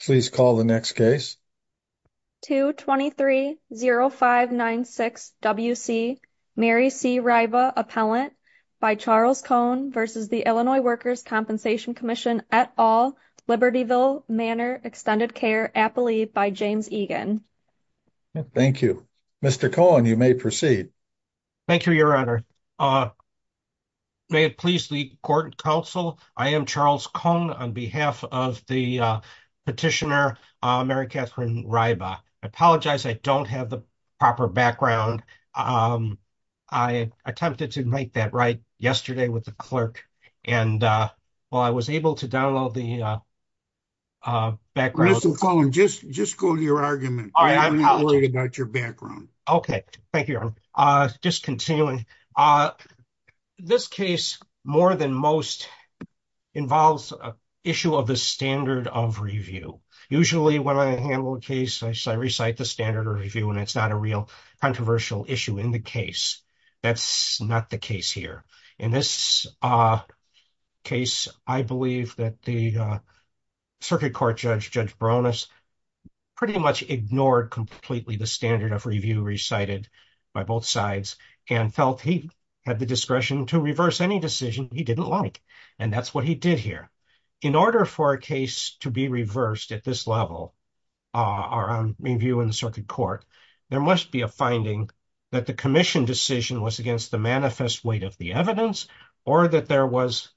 Please call the next case. 2230596 W.C. Mary C. Ryba, Appellant by Charles Cohn v. The Illinois Workers' Compensation Comm'n et al., Libertyville Manor Extended Care, Appalee by James Egan. Thank you. Mr. Cohn, you may proceed. Thank you, Your Honor. May it please the Court and Counsel, I am Charles Cohn on behalf of the Petitioner Mary Catherine Ryba. I apologize, I don't have the proper background. I attempted to make that right yesterday with the clerk, and while I was able to download the background... Listen, Cohn, just go to your argument. I'm not worried about your background. Okay. Thank you, Your Honor. Just continuing. This case, more than most, involves an issue of the standard of review. Usually, when I handle a case, I recite the standard of review, and it's not a real controversial issue in the case. That's not the case here. In this case, I believe that the Circuit Court Judge, Judge Baronis, pretty much ignored completely the standard of review recited by both sides and felt he had the discretion to reverse any decision he didn't like, and that's what he did here. In order for a case to be reversed at this level around review in the Circuit Court, there must be a finding that the commission decision was against the manifest weight of the evidence or that there was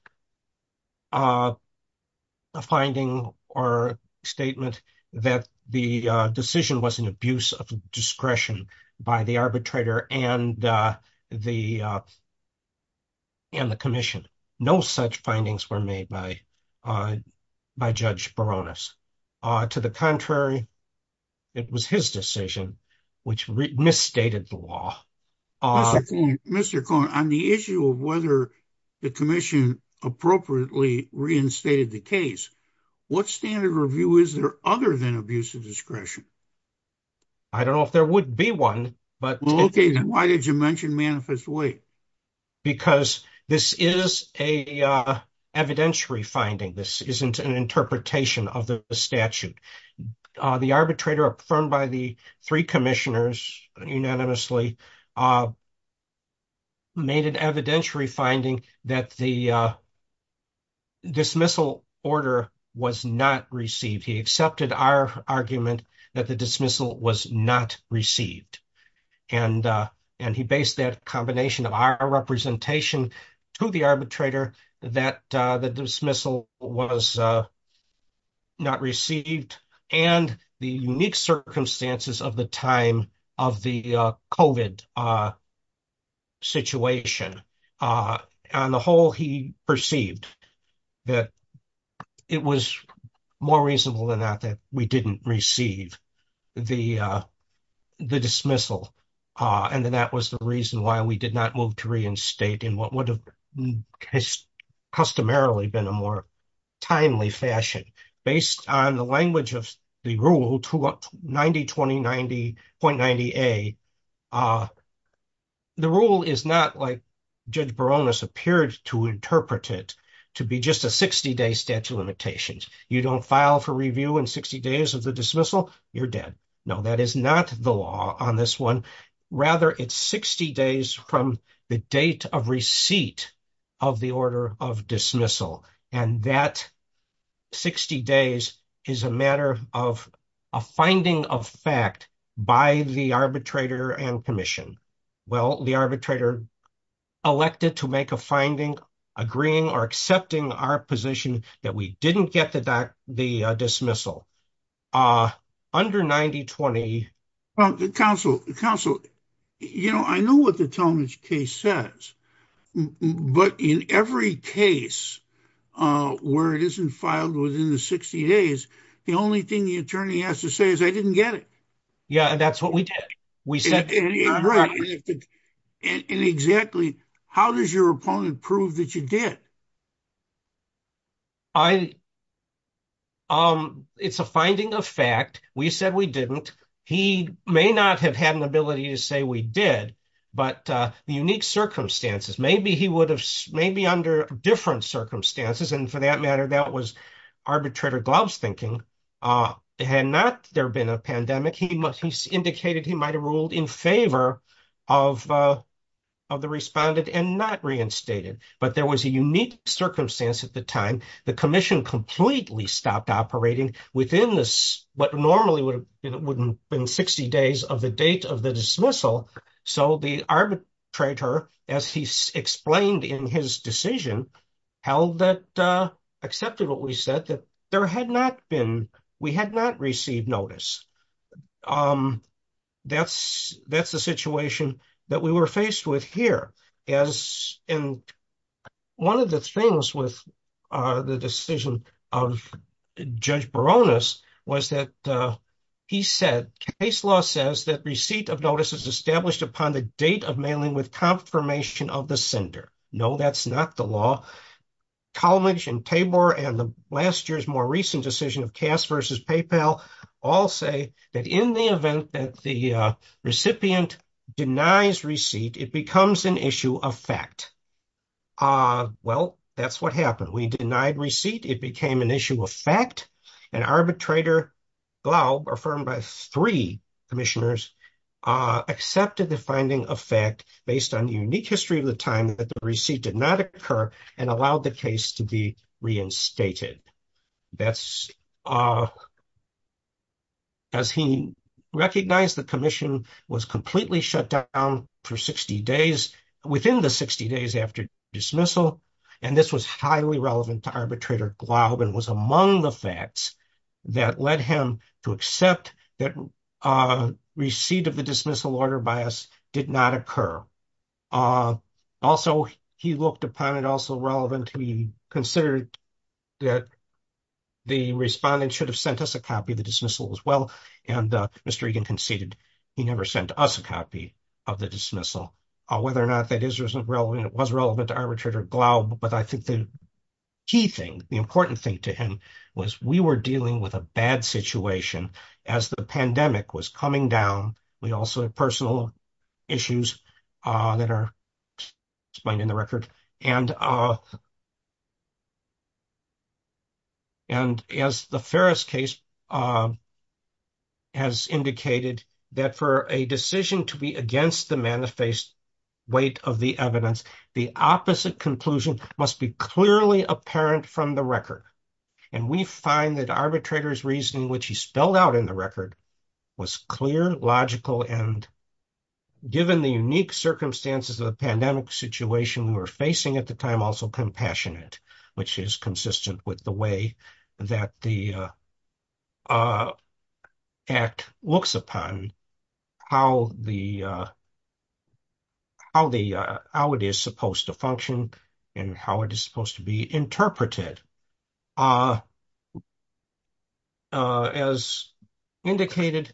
a finding or that the decision was an abuse of discretion by the arbitrator and the commission. No such findings were made by Judge Baronis. To the contrary, it was his decision which misstated the law. Mr. Cohn, on the issue of whether the commission appropriately reinstated the case, what standard of review is there other than abuse of discretion? I don't know if there would be one. Okay, then why did you mention manifest weight? Because this is an evidentiary finding. This isn't an interpretation of the statute. The arbitrator affirmed by the three order was not received. He accepted our argument that the dismissal was not received, and he based that combination of our representation to the arbitrator that the dismissal was not received and the unique circumstances of the time of the COVID situation. On the whole, he perceived that it was more reasonable than that that we didn't receive the dismissal, and then that was the reason why we did not move to reinstate in what would have customarily been a more timely fashion. Based on the language of the rule, 90-20-90.90a, the rule is not like Judge Baronis appeared to interpret it to be just a 60-day statute of limitations. You don't file for review in 60 days of the dismissal, you're dead. No, that is not the law on this one. Rather, it's 60 days from the date of receipt of the order of dismissal, and that 60 days is a matter of a finding of fact by the arbitrator and commission. Well, the arbitrator elected to make a finding agreeing or accepting our position that we didn't get the dismissal. Under 90-20... Counsel, you know, I know what the Talmadge case says, but in every case where it isn't filed within the 60 days, the only thing the attorney has to say is, I didn't get it. Yeah, that's what we did. And exactly how does your opponent prove that you did? It's a finding of fact. We said we didn't. He may not have had an ability to say we did, but the unique circumstances, maybe he would have, maybe under different circumstances, and for that matter, that was arbitrator Gloves thinking, had not there been a pandemic, he indicated he might have ruled in favor of the respondent and not reinstated. But there was a unique circumstance at the time. The commission completely stopped operating within this, what normally would have been 60 days of the date of the dismissal. So the arbitrator, as he explained in his decision, held that, accepted what we said, that there had not been, we had not received notice. That's the situation that we were faced with here. And one of the things with the decision of Judge Baronis was that he said, case law says that receipt of notice is established upon the date of mailing with confirmation of the sender. No, that's not the law. Colmage and Tabor and last year's more recent decision of Cass versus PayPal all say that in the event that the recipient denies receipt, it becomes an issue of fact. Well, that's what happened. We denied receipt, it became an issue of fact, and arbitrator Globe, affirmed by three commissioners, accepted the finding of fact based on the unique history of the time that the receipt did not occur and allowed the case to be reinstated. That's as he recognized the commission was completely shut down for 60 days within the 60 days after dismissal. And this was highly relevant to arbitrator Globe and was among the facts that led him to accept that receipt of the dismissal order by us did not occur. Also, he looked upon it also relevant to be considered that the respondent should have sent us a copy of the dismissal as well. And Mr. Egan conceded he never sent us a copy of the dismissal, whether or not that is or isn't relevant, it was relevant to arbitrator Globe. But I think the key thing, the important thing to him was we were dealing with a bad situation as the pandemic was coming down. We also have personal issues that are explained in the record. And as the Ferris case has indicated that for a decision to be against the manifest weight of the evidence, the opposite conclusion must be clearly apparent from the record. And we find that arbitrator's reasoning, which he spelled out in the record, was clear, logical, and given the unique circumstances of the pandemic situation we were facing at the time, also compassionate, which is consistent with the way that the act looks upon how it is supposed to function and how it is supposed to be interpreted. As indicated,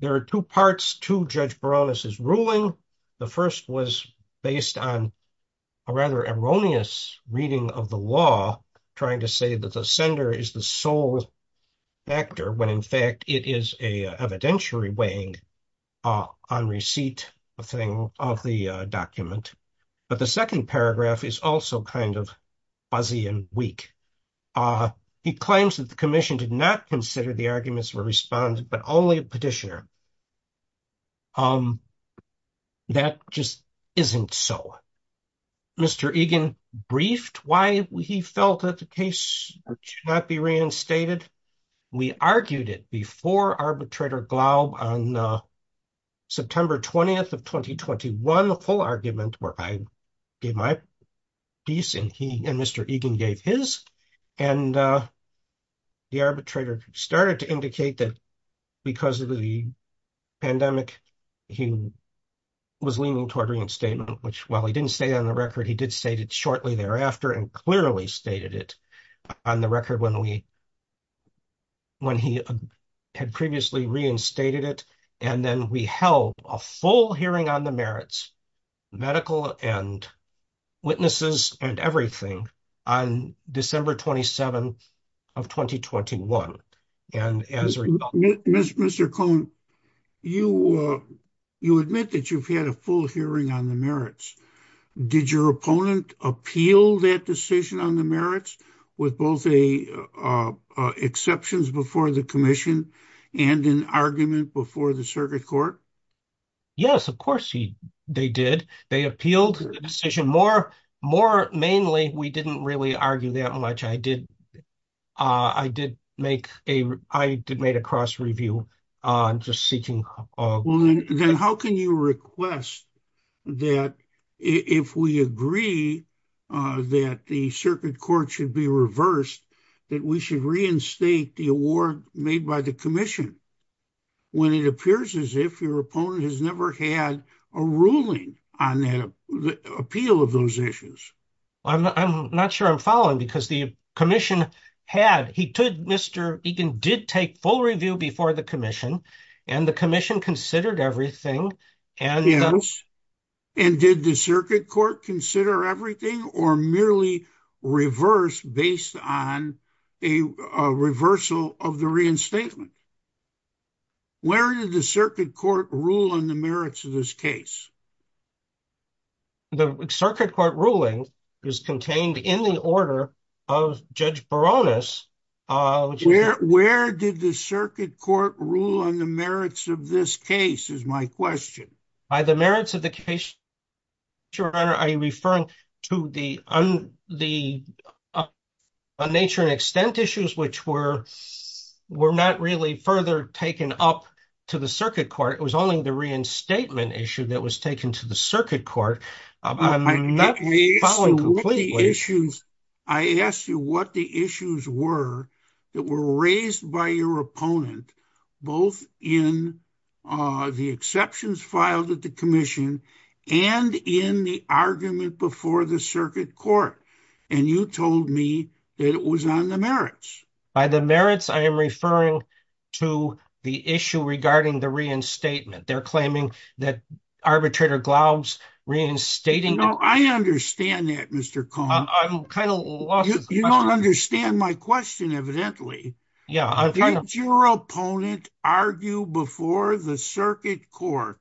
there are two parts to Judge Baroness's ruling. The first was based on a rather erroneous reading of the law, trying to say that the sender is the sole actor when in fact it is an evidentiary weighing on receipt of the document. But the second paragraph is also kind of fuzzy and weak. He claims that the commission did not consider the arguments of a respondent, but only a petitioner. That just isn't so. Mr. Egan briefed why he felt that the case should not be reinstated. We argued it before arbitrator Globe on September 20th of 2021, the full argument, where I gave my piece and Mr. Egan gave his. And the arbitrator started to indicate that because of the pandemic, he was leaning toward reinstatement, which while he didn't say on the record, he did state it shortly thereafter and clearly stated it on the record when he had previously reinstated it. And then we held a full hearing on the merits, medical and witnesses and everything on December 27th of 2021. Mr. Cohn, you admit that you've had a full hearing on the merits. Did your opponent appeal that decision on the merits with both a exceptions before the commission and an argument before the circuit court? Yes, of course they did. They appealed the decision. More mainly, we didn't really argue that much. I did. I did make a I did made a cross review on just seeking. Then how can you request that if we agree that the circuit court should be reversed, that we should reinstate the award made by the commission? When it appears as if your opponent has never had a ruling on the appeal of those issues. I'm not sure I'm following because the commission had he took Mr. Egan did take full review before the commission and the commission considered everything. And yes. And did the circuit court consider everything or merely reverse based on a reversal of the reinstatement? Where did the circuit court rule on the merits of this case? The circuit court ruling is contained in the order of Judge Baronis. Where did the circuit court rule on the merits of this case is my question. By the merits of the case, Your Honor, are you referring to the nature and extent issues which were not really further taken up to the circuit court? It was only the reinstatement issue that was taken to the circuit court. I'm not following completely. I asked you what the issues were that were raised by your opponent both in the exceptions filed at the commission and in the argument before the circuit court. And you told me that it was on the merits. By the merits, I am referring to the issue regarding the reinstatement. They're claiming that arbitrator Glaub's reinstating. No, I understand that Mr. Cohen. I'm kind of lost. You don't understand my question evidently. Did your opponent argue before the circuit court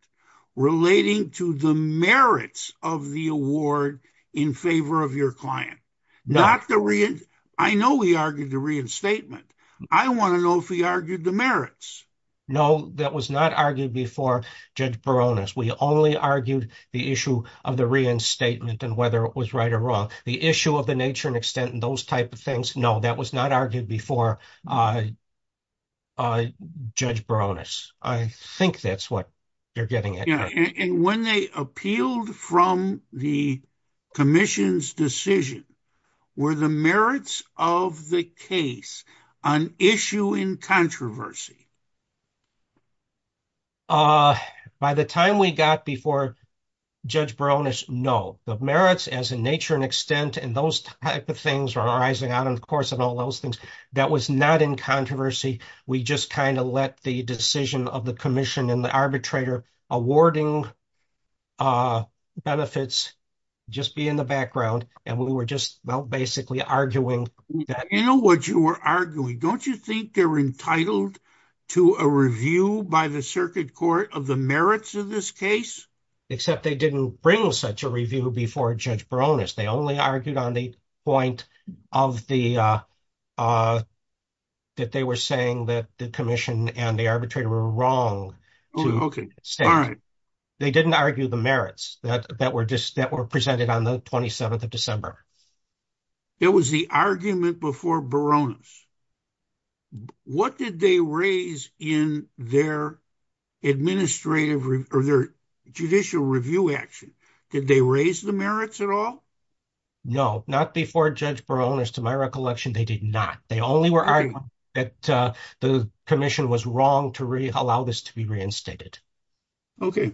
relating to the merits of the award in favor of your client? I know he argued the reinstatement. I want to know if he argued the merits. No, that was not argued before Judge Baronis. We only argued the issue of the reinstatement and whether it was right or wrong. The issue of the nature and extent and those type things. No, that was not argued before Judge Baronis. I think that's what you're getting at. Yeah. And when they appealed from the commission's decision, were the merits of the case an issue in controversy? By the time we got before Judge Baronis, no. The merits as in nature and extent and those type of things were rising out, of course, and all those things. That was not in controversy. We just kind of let the decision of the commission and the arbitrator awarding benefits just be in the background and we were just, well, basically arguing that. You know what you were arguing. Don't you think they're entitled to a review by the circuit court of the merits of this case? Except they didn't bring such a review before Judge Baronis. They only argued on the point that they were saying that the commission and the arbitrator were wrong. Okay. They didn't argue the merits that were presented on the 27th of December. It was the argument before Baronis. What did they raise in their judicial review action? Did they raise the merits at all? No, not before Judge Baronis. To my recollection, they did not. They only were arguing that the commission was wrong to allow this to be reinstated. Okay.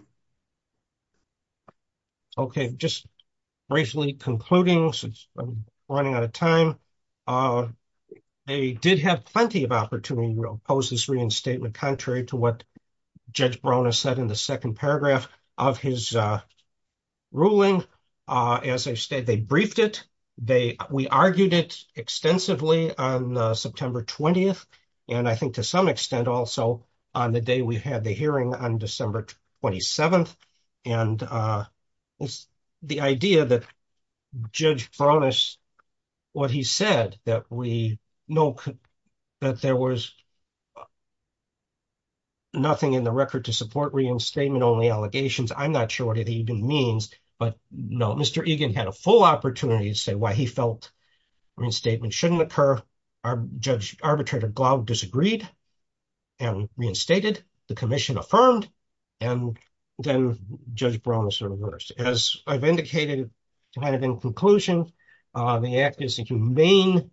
Okay. Just briefly concluding since I'm running out of time. They did have plenty of opportunity to oppose this reinstatement contrary to what Judge Baronis said in the second paragraph of his ruling. As I've stated, they briefed it. We argued it extensively on September 20th and I think to some extent also on the day we had the hearing on December 27th. The idea that Judge Baronis, what he said that we know that there was nothing in the record to support reinstatement only allegations. I'm not sure what it even means, but no. Mr. Egan had a full opportunity to say why he felt reinstatement shouldn't occur. Judge Arbitrator Glaub disagreed and reinstated. The commission affirmed and then Judge Baronis reversed. As I've indicated kind of in conclusion, the act is a humane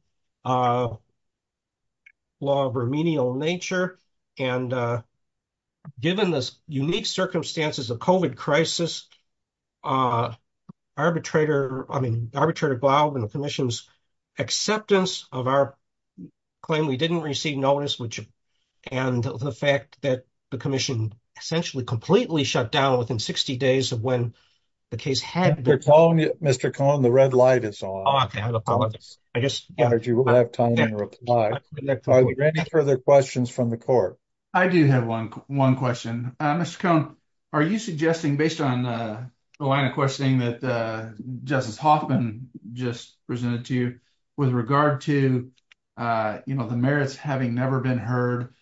law of remedial nature and given this unique circumstances of COVID crisis, Judge Arbitrator Glaub and the commission's acceptance of our claim we didn't receive notice and the fact that the commission essentially completely shut down within 60 days of when the case had been. Mr. Cohn, the red light is on. I guess you will have time to reply. Are there any further questions from the court? I do have one question. Mr. Cohn, are you suggesting based on the line of questioning that Justice Hoffman just presented to you with regard to the merits having never been heard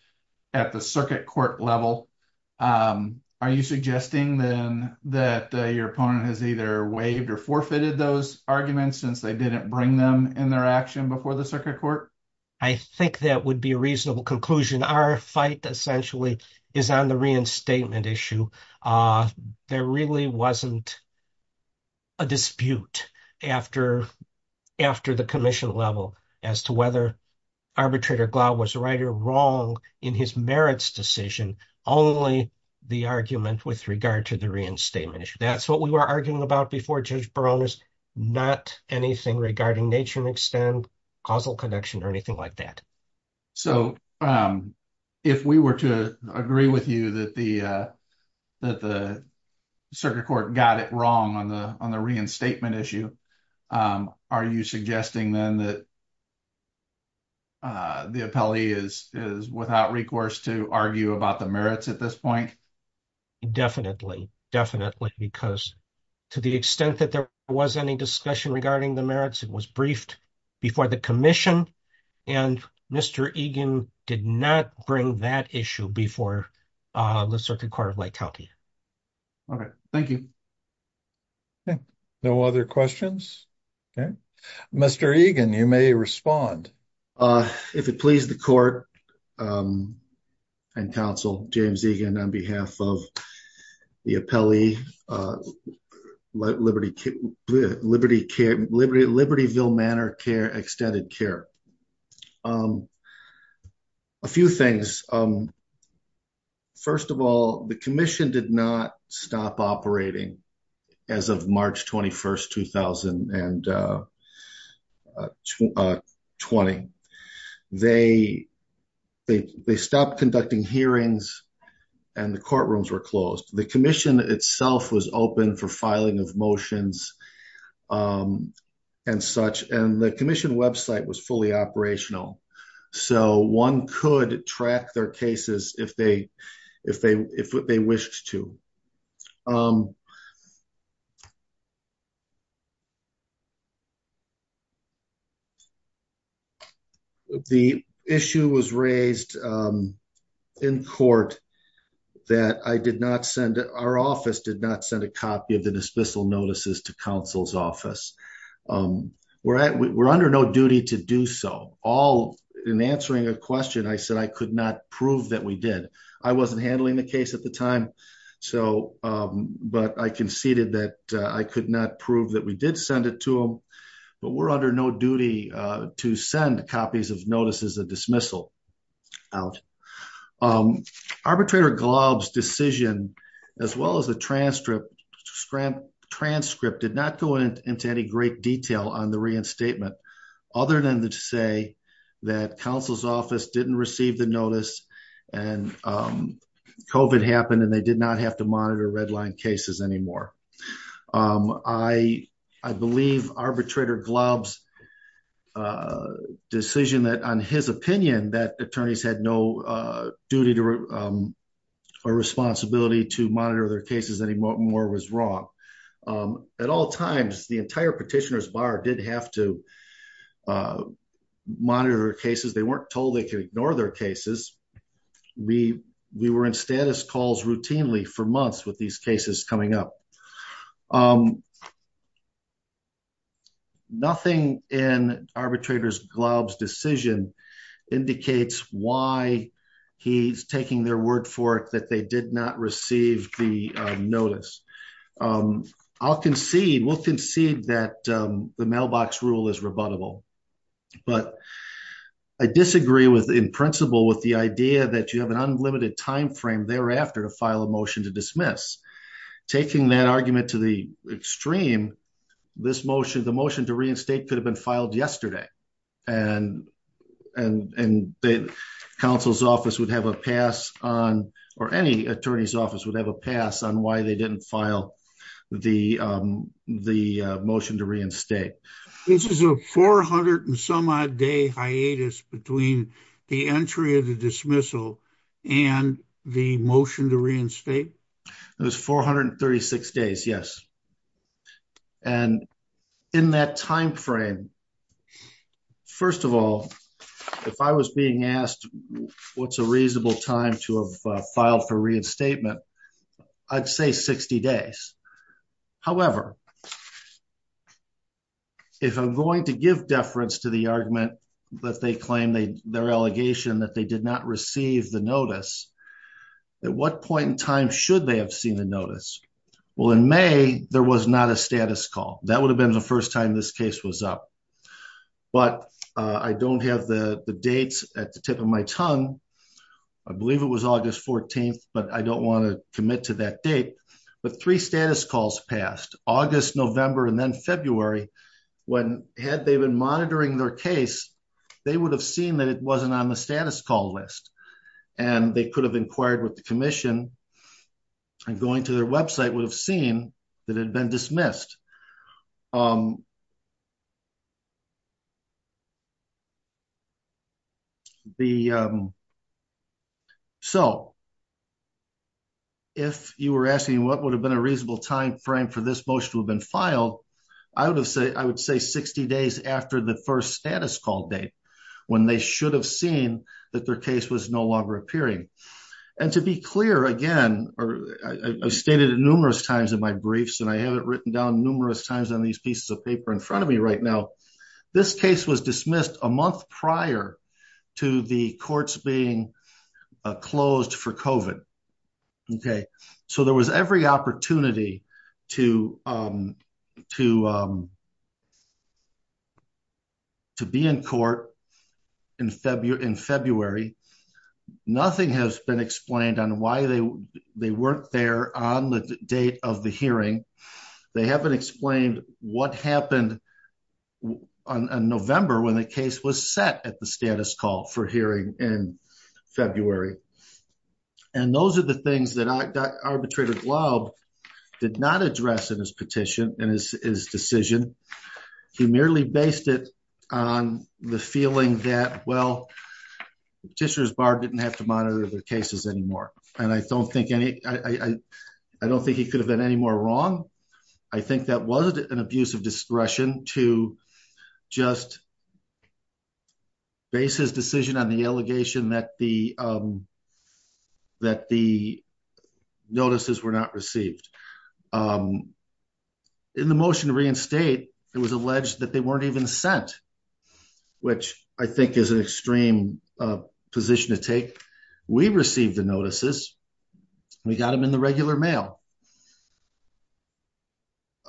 at the circuit court level, are you suggesting then that your opponent has either waived or forfeited those arguments since they didn't bring them in their action before the circuit court? I think that would be a reasonable conclusion. Our fight essentially is on the reinstatement issue. There really wasn't a dispute after the commission level as to whether Arbitrator Glaub was right or wrong in his merits decision, only the argument with regard to the reinstatement issue. That's what we were arguing about before Judge Baronis, not anything regarding nature and extent, causal connection or anything like that. If we were to agree with you that the circuit court got it wrong on the reinstatement issue, are you suggesting then that the appellee is without recourse to argue about the merits at this point? Definitely, because to the extent that there was any discussion regarding the merits, it was briefed before the commission and Mr. Egan did not bring that issue before the circuit court of lethality. Thank you. No other questions? Mr. Egan, you may respond. If it pleases the court and counsel, James Egan on behalf of the appellee, Libertyville Manor Extended Care. A few things. First of all, the commission did not stop operating as of March 21st, 2020. They stopped conducting hearings and the courtrooms were closed. The commission itself was open for filing of motions and such, and the commission website was fully operational. So, one could track their cases if they wished to. The issue was raised in court that our office did not send a copy of the dismissal notices to counsel's office. We're under no duty to do so. In answering a question, I said I could not prove that we did. I wasn't handling the case at the time, but I conceded that I could not prove that we did send it to them, but we're under no duty to send copies of notices of dismissal out. Arbitrator Glob's decision, as well as the transcript, did not go into any great detail on the reinstatement, other than to say that counsel's office didn't receive the notice and COVID happened and they did not have to monitor redline cases anymore. I believe Arbitrator Glob's decision on his opinion that attorneys had no duty or responsibility to monitor their cases anymore was wrong. At all times, the entire petitioner's bar did have to monitor their cases. They weren't told they could ignore their cases. We were in status calls routinely for months with these cases coming up. Nothing in Arbitrator Glob's decision indicates why he's taking their word for it that they did not receive the notice. I'll concede, we'll concede that the mailbox rule is rebuttable, but I disagree in principle with the idea that you have an unlimited time frame thereafter to dismiss. Taking that argument to the extreme, the motion to reinstate could have been filed yesterday and counsel's office would have a pass on, or any attorney's office would have a pass on why they didn't file the motion to reinstate. This is a 400 and some odd day hiatus between the entry of the dismissal and the motion to reinstate. It was 436 days, yes, and in that time frame, first of all, if I was being asked what's a reasonable time to have filed for reinstatement, I'd say 60 days. However, if I'm going to give deference to the argument that they claim, their allegation that they did not receive the notice, at what point in time should they have seen the notice? Well, in May, there was not a status call. That would have been the first time this case was up, but I don't have the dates at the tip of my tongue. I believe it was August 14th, but I don't want to commit to that date, but three status calls passed, August, November, and then February, when had they been monitoring their case, they would have seen that it wasn't on the status call list and they could have inquired with the commission and going to their website would have seen that it had been dismissed. Um, the, um, so if you were asking what would have been a reasonable time frame for this motion to have been filed, I would have said, I would say 60 days after the first status call date, when they should have seen that their case was no longer appearing. And to be clear again, or I stated it numerous times in my briefs, and I have it written down numerous times on these pieces of paper in front of me right now, this case was dismissed a month prior to the courts being closed for COVID. Okay. So there was every opportunity to, um, to, um, to be in court in February, in February, nothing has been explained on why they, they weren't there on the date of the hearing. They haven't explained what happened on November when the case was set at the status call for hearing in February. And those are the things that arbitrator glob did not address in his petition and his, his decision. He merely based it on the feeling that, well, the petitioners bar didn't have to monitor the cases anymore. And I don't think any, I don't think he could have been any more wrong. I think that wasn't an abuse of discretion to just base his decision on the allegation that the, um, that the, notices were not received, um, in the motion to reinstate, it was alleged that they weren't even sent, which I think is an extreme position to take. We received the notices. We got them in the regular mail.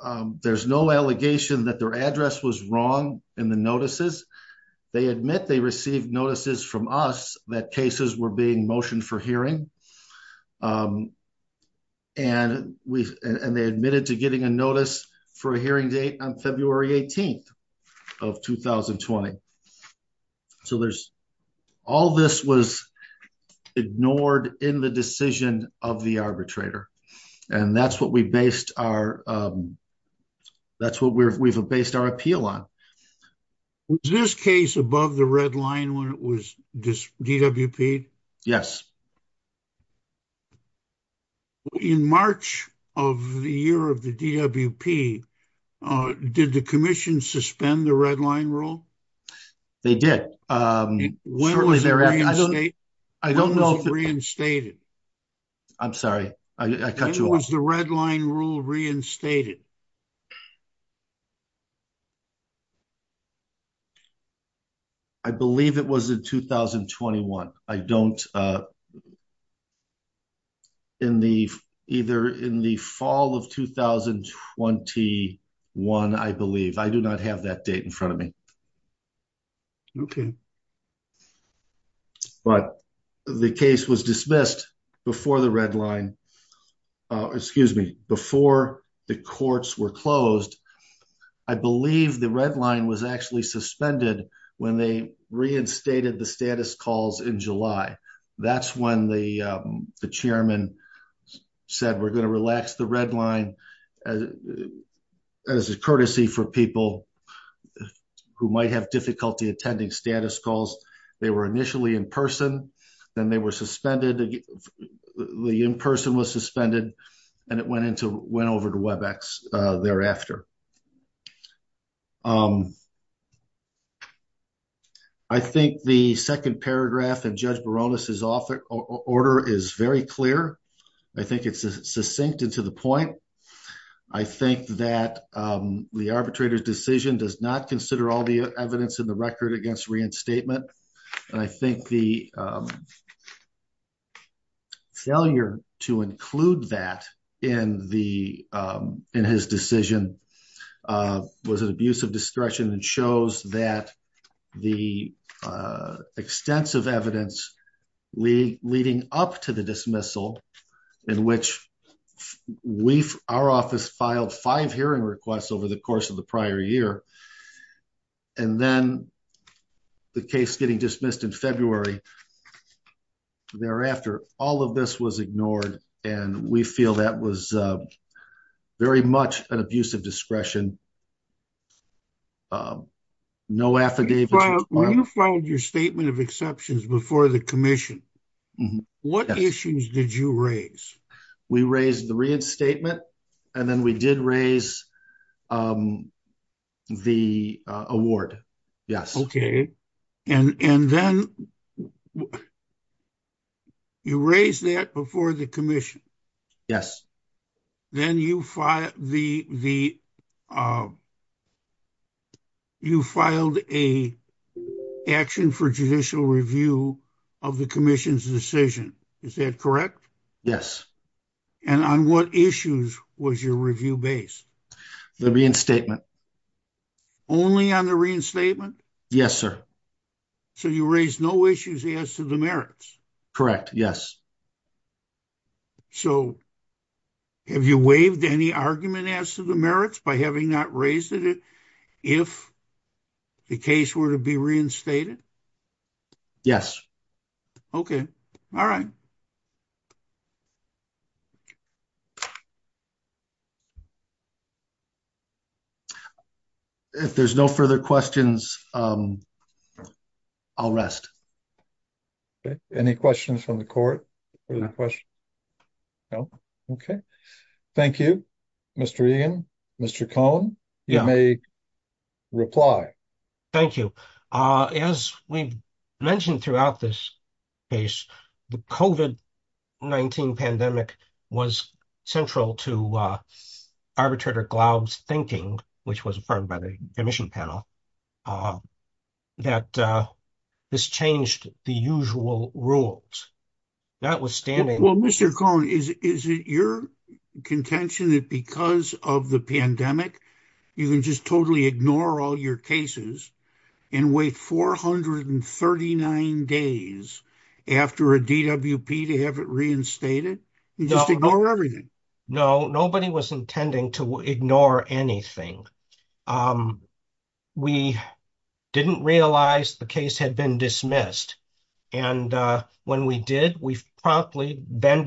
Um, there's no allegation that their address was wrong in the notices. They admit they received notices from us that cases were being motioned for hearing. Um, and we've, and they admitted to getting a notice for a hearing date on February 18th of 2020. So there's all this was ignored in the decision of the arbitrator. And that's what we based our, um, that's what we're, we've based our appeal on was this case above the red line when it was just DWP. Yes. In March of the year of the DWP, uh, did the commission suspend the red line rule? They did. Um, I don't know if reinstated. I'm sorry. I cut you off the red line rule reinstated. I believe it was in 2021. I don't, uh, in the either in the fall of 2021, I believe I do not have that date in front of me. Okay. But the case was dismissed before the red line, uh, excuse me, before the courts were closed. I believe the red line was actually suspended when they reinstated the status calls in July. That's when the, um, the chairman said, we're going to relax the red line as, as a courtesy for people who might have difficulty attending status calls. They were initially in person, then they were suspended. The in-person was suspended and it went into, went over to Webex, uh, thereafter. Um, I think the second paragraph and judge Baroness is author order is very clear. I think it's succinct into the point. I think that, um, the arbitrator's decision does not consider all the evidence in the record against reinstatement. And I think the, um, Yeah. Failure to include that in the, um, in his decision, uh, was an abuse of discretion and shows that the, uh, extensive evidence we leading up to the dismissal in which we've our office filed five hearing requests over the course of the prior year. And then the case getting dismissed in February thereafter, all of this was ignored. And we feel that was, uh, very much an abuse of discretion. Um, no affidavit. Your statement of exceptions before the commission, what issues did you raise? We raised the reinstatement and then we did raise, um, the, uh, award. Yes. Okay. And, and then you raise that before the commission. Yes. Then you fi the, the, uh, you filed a action for judicial review of the commission's decision. Is that correct? Yes. And on what issues was your review base? The reinstatement. Only on the reinstatement? Yes, sir. So you raised no issues as to the merits? Correct. Yes. So have you waived any argument as to the merits by having not raised it if the case were to be reinstated? Yes. Okay. All right. If there's no further questions, um, I'll rest. Okay. Any questions from the court or the question? No. Okay. Thank you, Mr. Egan. Mr. Cohen, you may reply. Thank you. Uh, as we've mentioned throughout this case, the COVID-19 pandemic was central to, uh, arbitrator Glaub's thinking, which was affirmed by the commission panel, uh, that, uh, this changed the usual rules. Not withstanding. Well, Mr. Cohen, is, is it your contention that because of the pandemic, you can just totally ignore all your cases and wait 439 days after a DWP to have it reinstated? No, nobody was intending to ignore anything. Um, we didn't realize the case had been dismissed. And, uh, when we did, we promptly then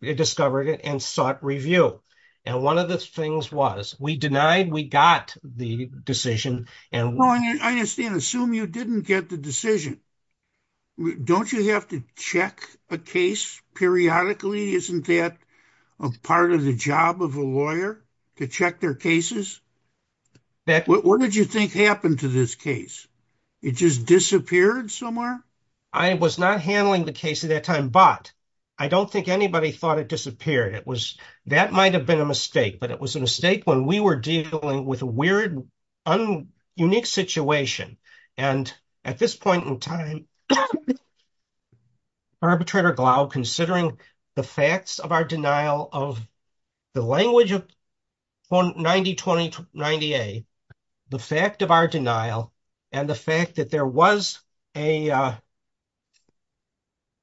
discovered it and sought review. And one of the things was we denied, we got the decision. And I just didn't assume you didn't get the decision. Don't you have to check a case periodically? Isn't that a part of the job of a lawyer to check their cases? What did you think happened to this case? It just disappeared somewhere? I was not handling the case at that time, but I don't think anybody thought it disappeared. It was, that might've been a mistake, but it was a mistake when we were dealing with a weird, un, unique situation. And at this point in time, arbitrator Glaub considering the facts of our denial of the language of 90, 20, 90A, the fact of our denial and the fact that there was a, uh, a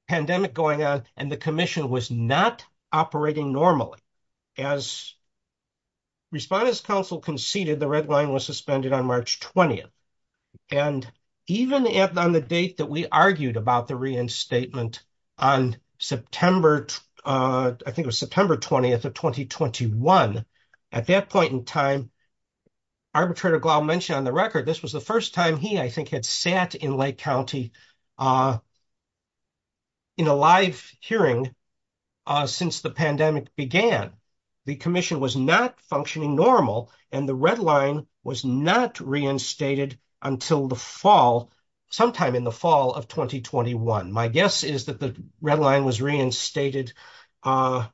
pandemic going on and the commission was not operating normally. As Respondents Council conceded, the red line was suspended on March 20th. And even on the date that we argued about the reinstatement on September, uh, I think it was September 20th of 2021. At that point in time, arbitrator Glaub mentioned on the record, this was the first time he, I think, had sat in Lake County uh, in a live hearing, uh, since the pandemic began. The commission was not functioning normal and the red line was not reinstated until the fall, sometime in the fall of 2021. My guess is that the red line was reinstated, uh,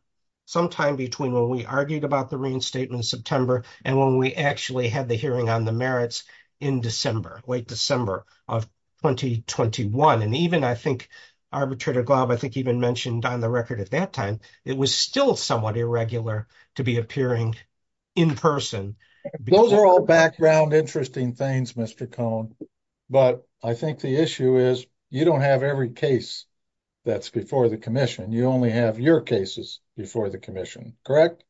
sometime between when we argued about the reinstatement in September and when we actually had the hearing on the merits in December, late December of 2021. And even I think arbitrator Glaub, I think even mentioned on the record at that time, it was still somewhat irregular to be appearing in person. Those are all background, interesting things, Mr. Cohn, but I think the issue is you don't have every case that's before the commission. You only have your cases before the commission, correct?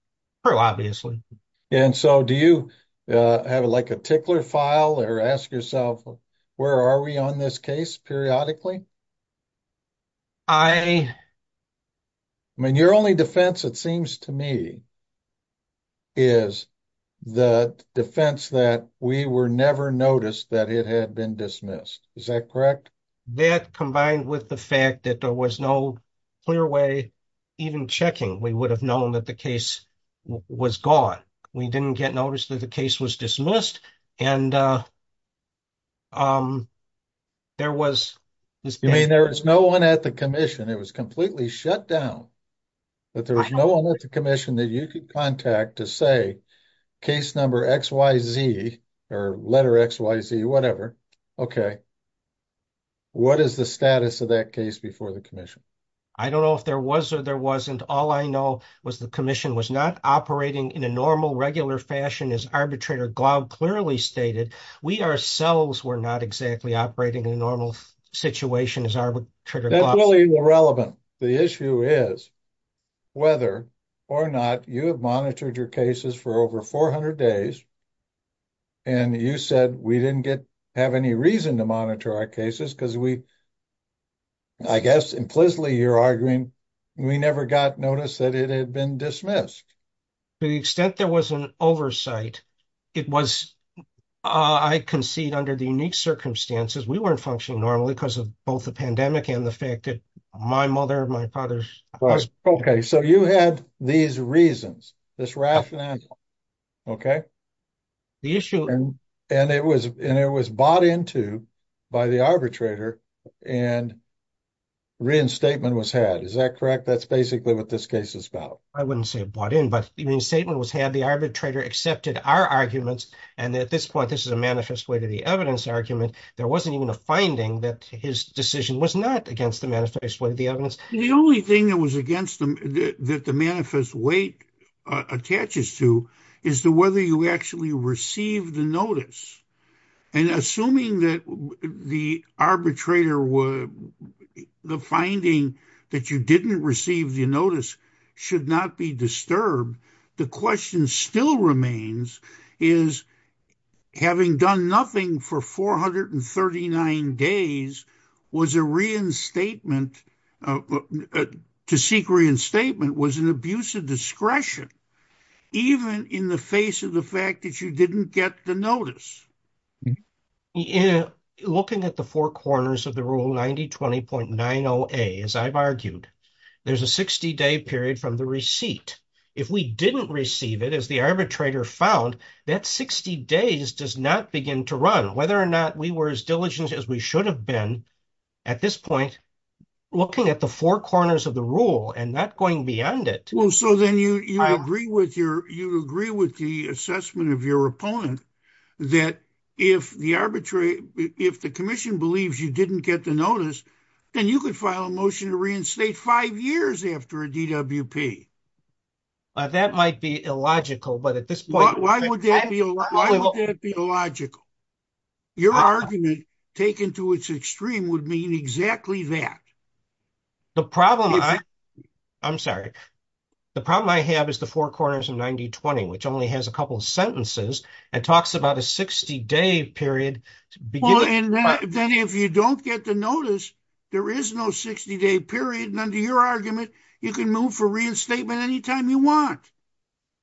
Sure, obviously. And so do you, uh, have like a tickler file or ask yourself where are we on this case periodically? I mean, your only defense, it seems to me, is the defense that we were never noticed that it had been dismissed. Is that correct? That combined with the fact that there was no clear way even checking, we would have known that the case was gone. We didn't get noticed that the case was dismissed. And, uh, um, there was, I mean, there was no one at the commission. It was completely shut down, but there was no one at the commission that you could contact to say case number XYZ or letter XYZ, whatever. Okay. What is the status of that case before the commission? I don't know if there was or there wasn't. All I know was the commission was not operating in a normal, regular fashion as arbitrator Glaub clearly stated. We ourselves were not exactly operating in a normal situation as arbitrator Glaub said. That's really irrelevant. The issue is whether or not you have monitored your cases for over 400 days and you said we didn't get, have any reason to monitor our cases because we, I guess implicitly you're arguing we never got noticed that it had been dismissed. To the extent there was an oversight, it was, uh, I concede under the unique circumstances, we weren't functioning normally because of both the pandemic and the fact that my mother, my father. Okay. So you had these reasons, this rationale. Okay. The issue. And it was, and it was bought into by the arbitrator and reinstatement was had, is that correct? That's basically what this case is about. I wouldn't say bought in, but even the statement was had the arbitrator accepted our arguments. And at this point, this is a manifest way to the evidence argument. There wasn't even a finding that his decision was not against the manifest way. The evidence, the only thing that was against them, that the manifest weight attaches to is the, whether you actually received the notice and assuming that the arbitrator would, the finding that you didn't receive the notice should not be disturbed. The question still remains is having done nothing for 439 days was a reinstatement, uh, to seek reinstatement was an abuse of discretion, even in the face of the fact that you didn't get the notice. Looking at the four corners of the rule 90, 20.9 0 a, as I've argued, there's a 60 day period from the receipt. If we didn't receive it as the arbitrator found that 60 days does not begin to run whether or not we were as diligent as we should have been at this point, looking at the four corners of the rule and not going beyond it. Well, so then you, you agree with your, you agree with the assessment of your opponent that if the arbitrary, if the commission believes you didn't get the notice, then you could file a motion to reinstate five years after a DWP. Uh, that might be illogical, but at this point, why would that be illogical? Your argument taken to its extreme would mean exactly that. The problem. I'm sorry. The problem I have is the four corners of 90, 20, which only has a couple of sentences and talks about a 60 day period. And then if you don't get the notice, there is no 60 day period. And under your argument, you can move for reinstatement anytime you want.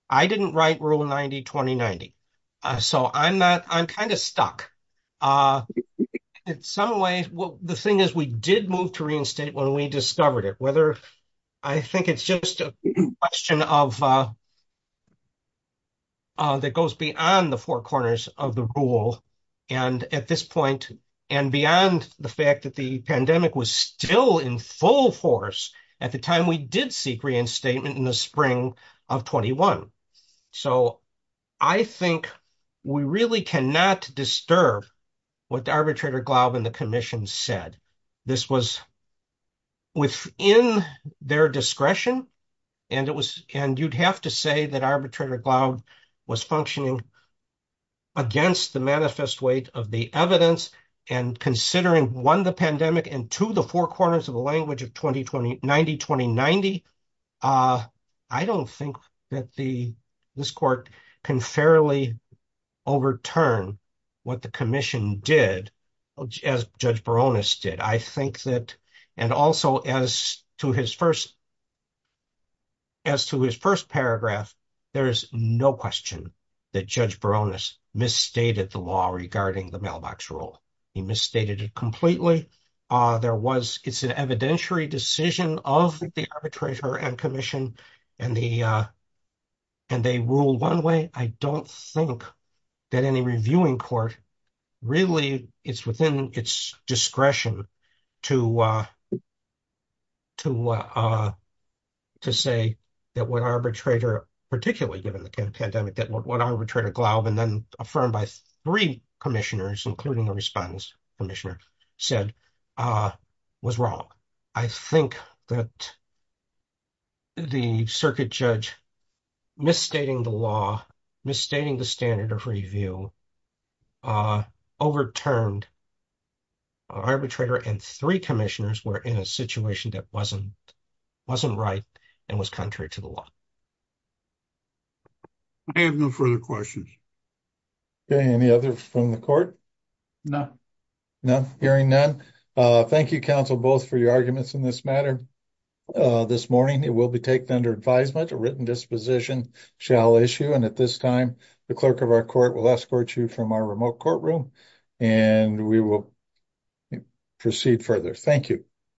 I didn't write rule 90, 20, 90. Uh, so I'm not, I'm kind of stuck. Uh, in some ways, well, the thing is we did move to reinstate when we discovered it, whether I think it's just a question of, uh, uh, that goes beyond the four corners of the rule. And at this point and beyond the fact that the pandemic was still in full force at the time, we did seek reinstatement in the spring of 21. So I think we really cannot disturb what the arbitrator Glaub and the commission said this was within their discretion. And it was, and you'd have to say that arbitrator Glaub was functioning against the manifest weight of the evidence and considering one, the pandemic and two, the four corners of the language of 20, 20, 90, 20, 90. Uh, I don't think that the, this court can fairly overturn what the commission did as judge Baroness did. I think that, and also as to his first, as to his first paragraph, there is no question that judge Baroness misstated the law regarding the mailbox rule. He misstated it completely. Uh, there was, it's an evidentiary decision of the arbitrator and commission and the, uh, and they rule one way. I don't think that any court, really it's within its discretion to, uh, to, uh, to say that what arbitrator, particularly given the pandemic, that what arbitrator Glaub and then affirmed by three commissioners, including the respondents commissioner said, uh, was wrong. I think that the circuit judge misstating the law, misstating the standard of review, uh, overturned arbitrator and three commissioners were in a situation that wasn't, wasn't right and was contrary to the law. I have no further questions. Okay. Any other from the court? No, no, hearing none. Uh, thank you counsel both for your arguments in this matter. Uh, this morning it will be taken under advisement, a written disposition shall issue. And at this time, the clerk of our court will escort you from our remote courtroom and we will proceed further. Thank you.